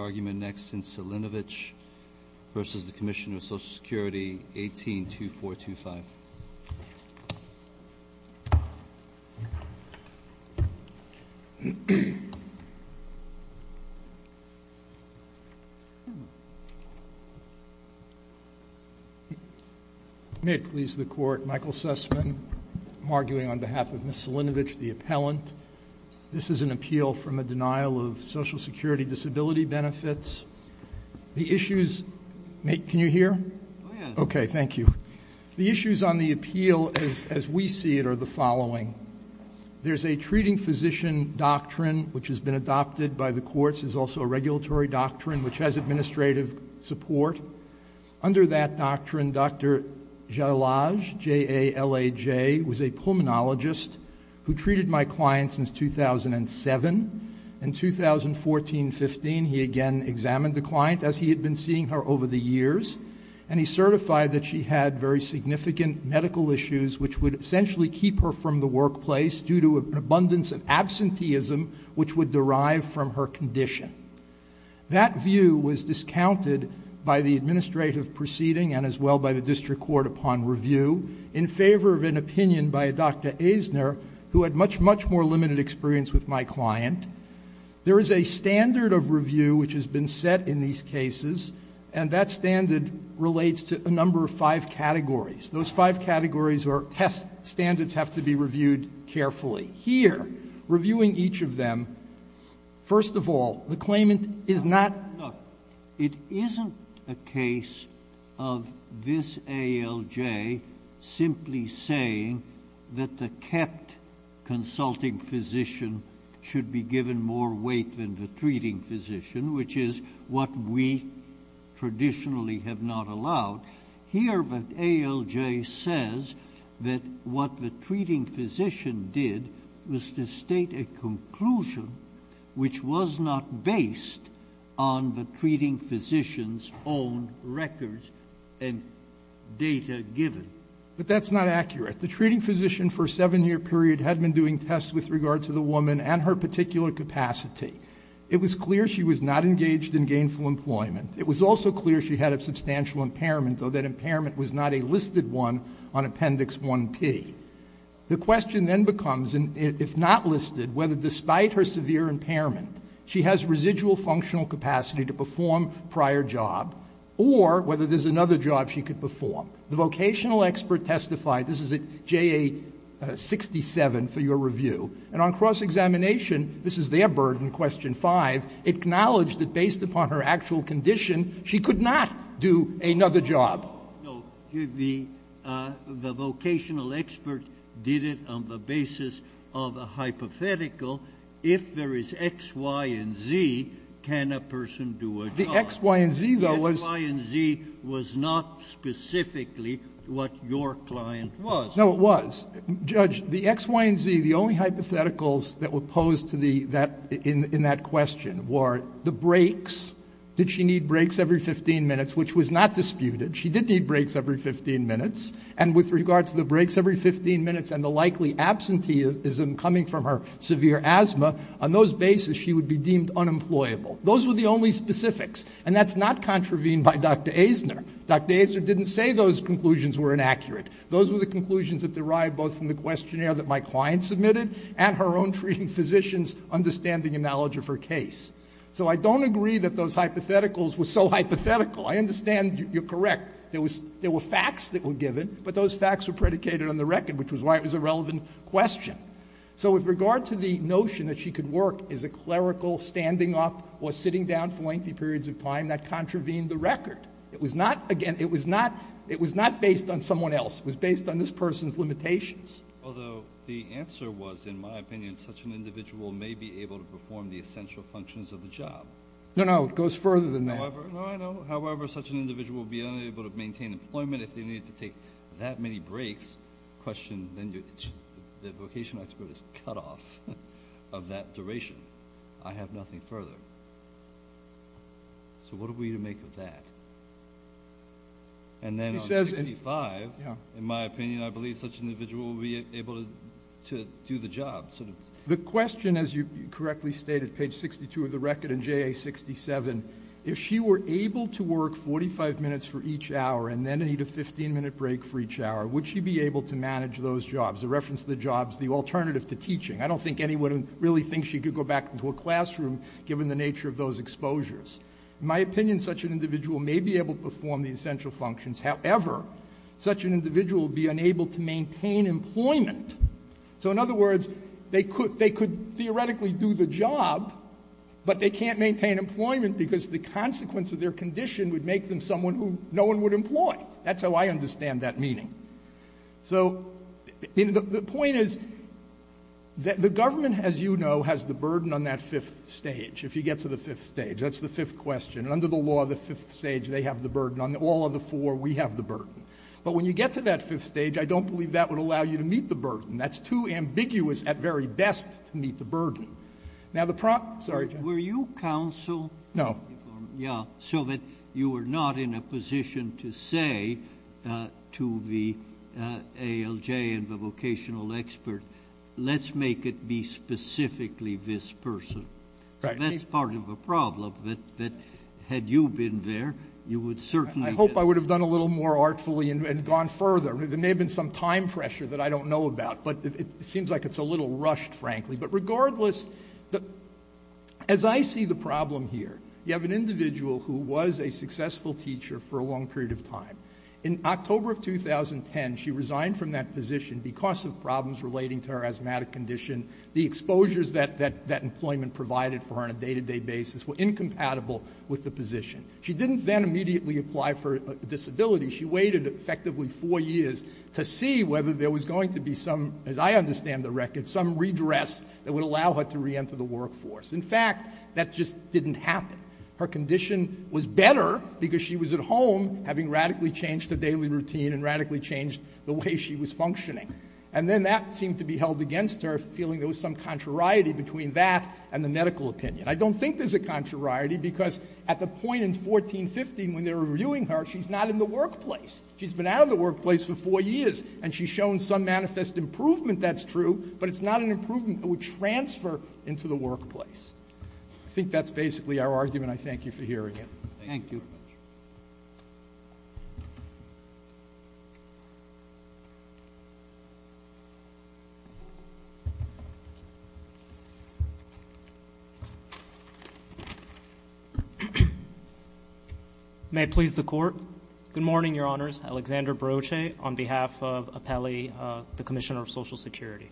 182425 May it please the Court, Michael Sussman. I'm arguing on behalf of Ms. Salinovich, the appellant. This is an appeal from a denial of Social Security benefits. The issues, can you hear? Okay, thank you. The issues on the appeal as we see it are the following. There's a treating physician doctrine which has been adopted by the courts. There's also a regulatory doctrine which has administrative support. Under that doctrine, Dr. Jalaj, J-A-L-A-J, was a pulmonologist who treated my client since 2007. In 2014-15, he again examined the client as he had been seeing her over the years, and he certified that she had very significant medical issues which would essentially keep her from the workplace due to an abundance of absenteeism which would derive from her condition. That view was discounted by the administrative proceeding and as well by the client. There is a standard of review which has been set in these cases, and that standard relates to a number of five categories. Those five categories or test standards have to be reviewed carefully. Here, reviewing each of them, first of all, the claimant is not the case of this A-L-J simply saying that the kept consulting physician should be given more weight than the treating physician, which is what we traditionally have not allowed. Here, the A-L-J says that what the treating physician did was to state a conclusion which was not based on the treating physician's own records and data given. But that's not accurate. The treating physician for a seven-year period had been doing tests with regard to the woman and her particular capacity. It was clear she was not engaged in gainful employment. It was also clear she had a substantial impairment, though that despite her severe impairment, she has residual functional capacity to perform prior job, or whether there's another job she could perform. The vocational expert testified. This is at J.A. 67 for your review. And on cross-examination, this is their burden, question 5, acknowledged that based upon her actual condition, she could not do another job. No. The vocational expert did it on the basis of a hypothetical. If there is X, Y, and Z, can a person do a job? The X, Y, and Z, though, was not specifically what your client was. No, it was. Judge, the X, Y, and Z, the only hypotheticals that were posed to the that — in that question were the breaks. Did she need breaks every 15 minutes, which was not disputed. She did need breaks every 15 minutes. And with regard to the breaks every 15 minutes and the likely absenteeism coming from her severe asthma, on those basis, she would be deemed unemployable. Those were the only specifics. And that's not contravened by Dr. Eisner. Dr. Eisner didn't say those conclusions were inaccurate. Those were the conclusions that derived both from the questionnaire that my client submitted and her own treating physicians' understanding and knowledge of her case. So I don't agree that those hypotheticals were so hypothetical. I understand you're correct. There was — there were facts that were given, but those facts were predicated on the record, which was why it was a relevant question. So with regard to the notion that she could work as a clerical standing up or sitting down for lengthy periods of time, that contravened the record. It was not — again, it was not — it was not based on someone else. It was based on this person's limitations. Although the answer was, in my opinion, such an individual may be able to perform the essential functions of the job. No, no. It goes further than that. No, I know. However, such an individual would be unable to maintain employment if they needed to take that many breaks. Question — then the vocational expert is cut off of that duration. I have nothing further. So what are we to make of that? And then on 65 — He says — Yeah. — in my opinion, I believe such an individual would be able to do the job, sort of — The question, as you correctly stated, page 62 of the record and JA 67, if she were able to work 45 minutes for each hour and then need a 15-minute break for each hour, would she be able to manage those jobs? A reference to the jobs, the alternative to teaching. I don't think anyone really thinks she could go back into a classroom given the nature of those exposures. In my opinion, such an individual may be able to perform the essential functions. However, such an individual would be unable to maintain employment. So in other words, they could theoretically do the job, but they can't maintain employment because the consequence of their condition would make them someone who no one would employ. That's how I understand that meaning. So the point is that the government, as you know, has the burden on that fifth stage, if you get to the fifth stage. That's the fifth question. And under the law, the fifth stage, they have the burden. On all of the four, we have the burden. But when you get to that fifth stage, I don't believe that would allow you to meet the burden. That's too ambiguous, at very best, to meet the burden. Now the problem—sorry, Jeff. Were you counsel? No. Yeah, so that you were not in a position to say to the ALJ and the vocational expert, let's make it be specifically this person. Right. That's part of the problem, that had you been there, you would certainly— I hope I would have done a little more artfully and gone further. There may have been some time pressure that I don't know about, but it seems like it's a little rushed, frankly. But regardless, as I see the problem here, you have an individual who was a successful teacher for a long period of time. In October of 2010, she resigned from that position because of problems relating to her asthmatic condition. The exposures that employment provided for her on a day-to-day basis were incompatible with the position. She didn't then immediately apply for a disability. She waited effectively four years to see whether there was going to be some, as I understand the record, some redress that would allow her to reenter the workforce. In fact, that just didn't happen. Her condition was better because she was at home, having radically changed her daily routine and radically changed the way she was functioning. And then that seemed to be held against her, feeling there was some contrariety between that and the medical opinion. I don't think there's a contrariety, because at the point in 1415 when they were reviewing her, she's not in the workplace. She's been out of the workplace for four years, and she's shown some manifest improvement, that's true, but it's not an improvement that would transfer into the workplace. I think that's basically our argument. I thank you for hearing it. Thank you. Thank you very much. May it please the Court. Good morning, Your Honors. Alexander Broche on behalf of Appelli, the Commissioner of Social Security.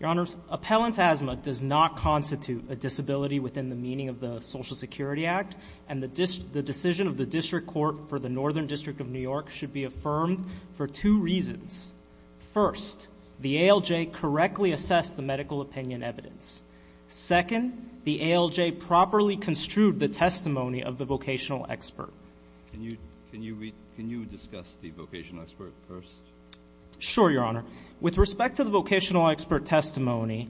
Your Honors, appellant's asthma does not constitute a disability within the meaning of the Social Security Act, and the decision of the District Court for the Northern District of New York should be affirmed for two reasons. First, the ALJ correctly assessed the medical opinion evidence. Second, the ALJ properly construed the testimony of the vocational expert. Can you discuss the vocational expert first? Sure, Your Honor. With respect to the vocational expert testimony,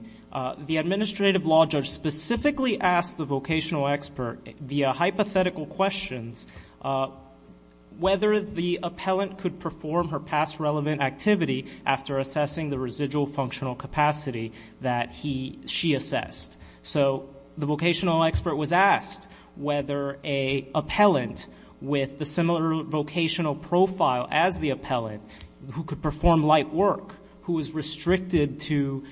the administrative law judge specifically asked the vocational expert, via hypothetical questions, whether the appellant could perform her past relevant activity after assessing the residual functional capacity that she assessed. So the vocational expert was asked whether an appellant with the similar vocational profile as the appellant, who could perform light work, who was restricted to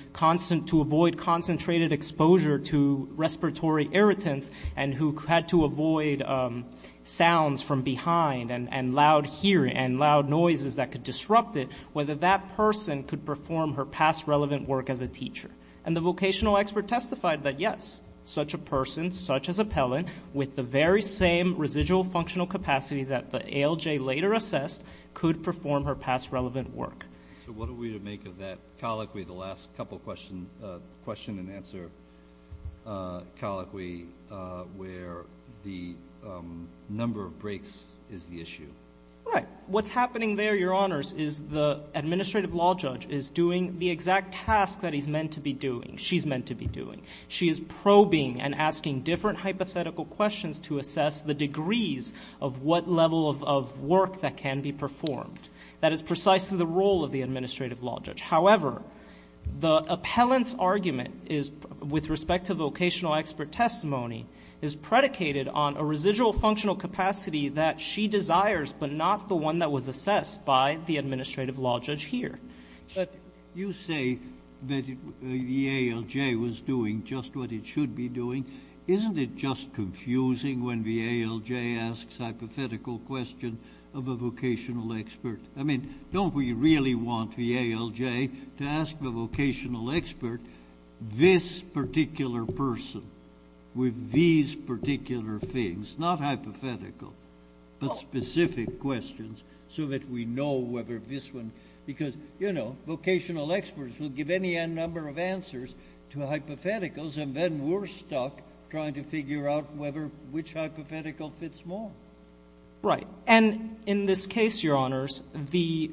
avoid concentrated exposure to respiratory irritants, and who had to avoid sounds from behind and loud hearing and loud noises that could disrupt it, whether that person could perform her past relevant work as a teacher. And the vocational expert testified that yes, such a person, such as appellant, with the very same residual functional capacity that the ALJ later assessed, could perform her past relevant work. So what are we to make of that colloquy, the last couple questions, question and answer colloquy, where the number of breaks is the issue? Right. What's happening there, Your Honors, is the administrative law judge is doing the exact task that he's meant to be doing, she's meant to be doing. She is probing and asking different hypothetical questions to assess the degrees of what level of work that can be performed. That is precisely the role of the administrative law judge. However, the appellant's argument is, with respect to vocational expert testimony, is predicated on a residual functional capacity that she desires, but not the one that was assessed by the administrative law judge here. But you say that the ALJ was doing just what it should be doing. Isn't it just confusing when the ALJ asks a hypothetical question of a vocational expert? I mean, don't we really want the ALJ to ask the vocational expert this particular person with these particular things, not hypothetical, but specific questions, so that we know whether this one, because, you know, vocational experts will give any number of answers to hypotheticals and then we're stuck trying to figure out which hypothetical fits more. Right. And in this case, Your Honors, the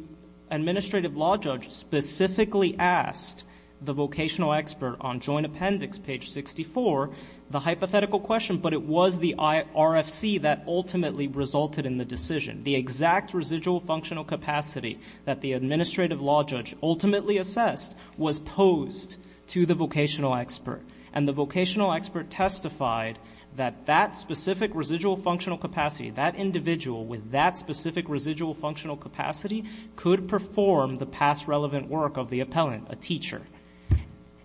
administrative law judge specifically asked the vocational expert on Joint Appendix, page 64, the hypothetical question, but it was the RFC that ultimately resulted in the decision. The exact residual functional capacity that the administrative law judge ultimately assessed was posed to the vocational expert. And the vocational expert testified that that specific residual functional capacity, that individual with that specific residual functional capacity could perform the past relevant work of the appellant, a teacher.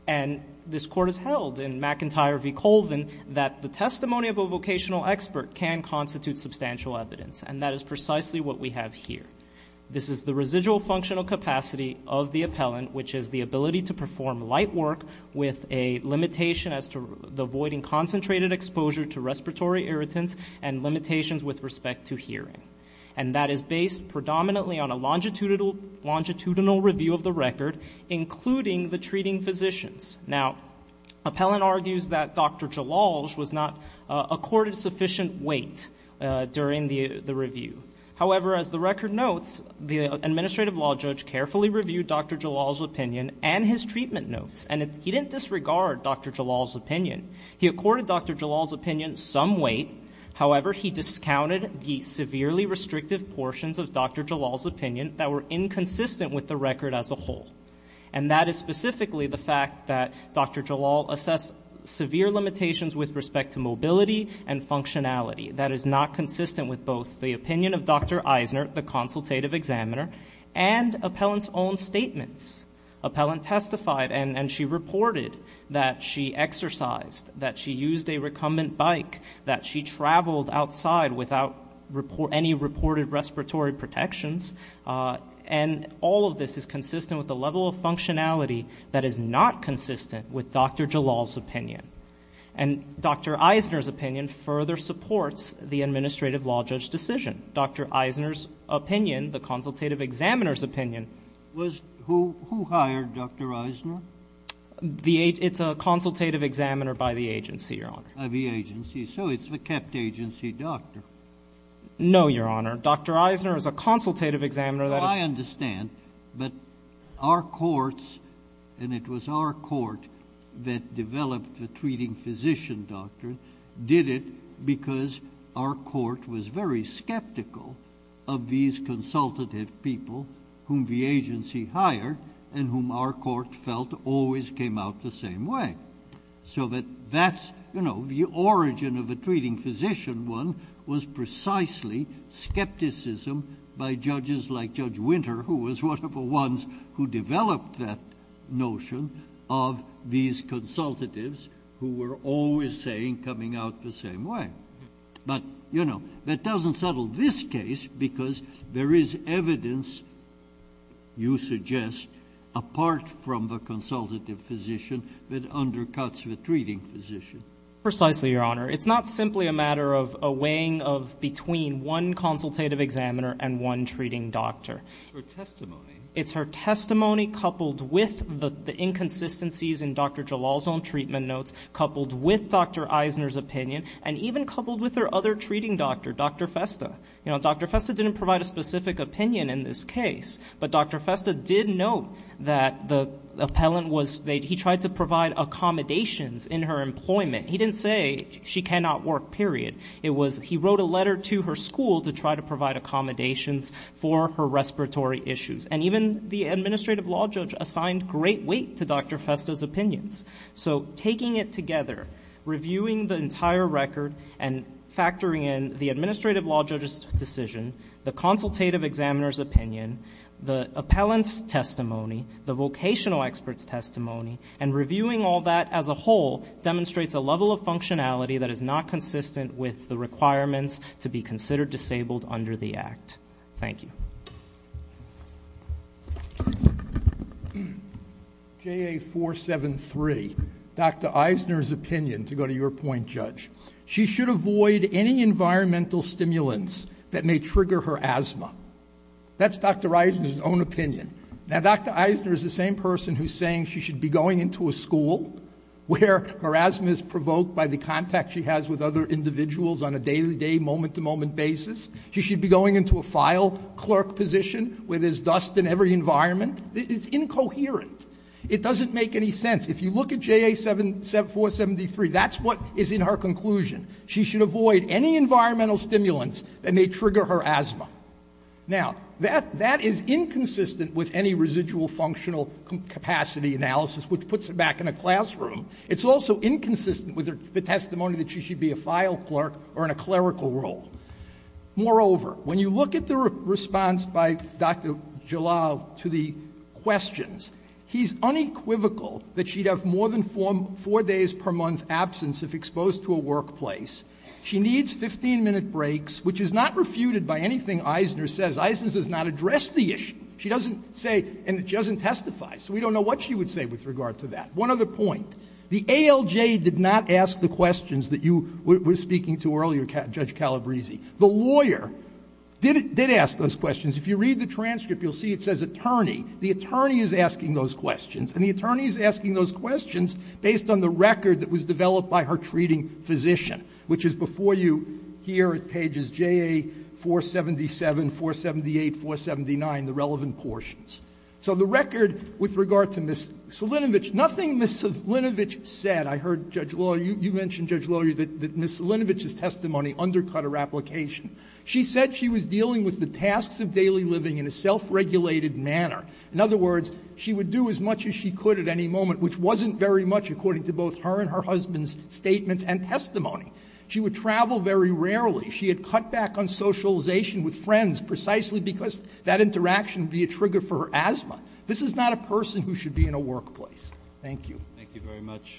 And this Court has held in McIntyre v. Colvin that the testimony of a vocational expert can constitute substantial evidence, and that is precisely what we have here. This is the residual functional capacity of the appellant, which is the ability to perform light work with a limitation as to avoiding concentrated exposure to respiratory irritants and limitations with respect to hearing. And that is based predominantly on a longitudinal review of the record, including the treating physicians. Now, appellant argues that Dr. Jalalj was not accorded sufficient weight during the review. However, as the record notes, the administrative law judge carefully reviewed Dr. Jalalj's opinion and his treatment notes, and he didn't disregard Dr. Jalalj's opinion. He accorded Dr. Jalalj's opinion some weight. However, he discounted the severely restrictive portions of Dr. Jalalj's opinion that were inconsistent with the record as a whole. And that is specifically the fact that Dr. Jalalj assessed severe limitations with respect to mobility and functionality. That is not consistent with both the opinion of Dr. Eisner, the consultative examiner, and appellant's own statements. Appellant testified, and she reported that she exercised, that she used a recumbent bike, that she traveled outside without any reported respiratory protections. And all of this is consistent with the level of functionality that is not consistent with Dr. Jalalj's opinion. And Dr. Eisner's opinion further supports the administrative law judge's decision. Dr. Eisner's opinion, the consultative examiner's opinion — JUSTICE SCALIA. Was — who hired Dr. Eisner? MR. ZUNIGA. The — it's a consultative examiner by the agency, Your Honor. JUSTICE SCALIA. By the agency. So it's the kept agency doctor. MR. ZUNIGA. No, Your Honor. Dr. Eisner is a consultative examiner. JUSTICE SCALIA. Well, I understand. But our courts — and it was our court that developed the treating physician doctrine — did it because our court was very skeptical of these consultative people whom the agency hired and whom our court felt always came out the precisely skepticism by judges like Judge Winter, who was one of the ones who developed that notion, of these consultatives who were always saying coming out the same way. But, you know, that doesn't settle this case because there is evidence, you suggest, apart from the consultative physician that undercuts the treating physician. MR. ZUNIGA. Precisely, Your Honor. It's not simply a matter of a weighing of between one consultative examiner and one treating doctor. JUSTICE SCALIA. It's her testimony. MR. ZUNIGA. It's her testimony coupled with the inconsistencies in Dr. Jalal's own treatment notes, coupled with Dr. Eisner's opinion, and even coupled with her other treating doctor, Dr. Festa. You know, Dr. Festa didn't provide a specific opinion in this case, but Dr. Festa did note that the appellant was, he tried to provide accommodations in her employment. He didn't say she cannot work, period. It was he wrote a letter to her school to try to provide accommodations for her respiratory issues. And even the administrative law judge assigned great weight to Dr. Festa's opinions. So taking it together, reviewing the entire record and factoring in the administrative law judge's decision, the consultative examiner's opinion, the appellant's testimony, the vocational expert's testimony, and reviewing all that as a whole demonstrates a level of functionality that is not consistent with the requirements to be considered disabled under the Act. Thank you. JUDGE LEBEN. JA-473, Dr. Eisner's opinion, to go to your point, Judge. She should avoid any environmental stimulants that may trigger her asthma. That's Dr. Eisner's own opinion. Now, Dr. Eisner is the same person who's saying she should be going into a school where her asthma is provoked by the contact she has with other individuals on a day-to-day, moment-to-moment basis. She should be going into a file clerk position where there's dust in every environment. It's incoherent. It doesn't make any sense. If you look at JA-473, that's what is in her conclusion. She should avoid any environmental stimulants that may trigger her asthma. Now, that is inconsistent with any residual functional capacity analysis, which puts her back in a classroom. It's also inconsistent with the testimony that she should be a file clerk or in a clerical role. Moreover, when you look at the response by Dr. Jalal to the questions, he's unequivocal that she'd have more than four days per month absence if exposed to a workplace. She needs 15-minute breaks, which is not refuted by anything Eisner says. Eisner does not address the issue. She doesn't say and she doesn't testify. So we don't know what she would say with regard to that. One other point. The ALJ did not ask the questions that you were speaking to earlier, Judge Calabresi. The lawyer did ask those questions. If you read the transcript, you'll see it says attorney. The attorney is asking those questions. And the attorney is asking those questions based on the record that was developed by her treating physician, which is before you here at pages JA-477, 478, 479, the relevant portions. So the record with regard to Ms. Selinovich, nothing Ms. Selinovich said. I heard, Judge Lawyer, you mentioned, Judge Lawyer, that Ms. Selinovich's testimony undercut her application. She said she was dealing with the tasks of daily living in a self-regulated manner. In other words, she would do as much as she could at any moment, which wasn't very much according to both her and her husband's statements and testimony. She would travel very rarely. She had cut back on socialization with friends precisely because that interaction would be a trigger for her asthma. This is not a person who should be in a workplace. Thank you. Thank you very much.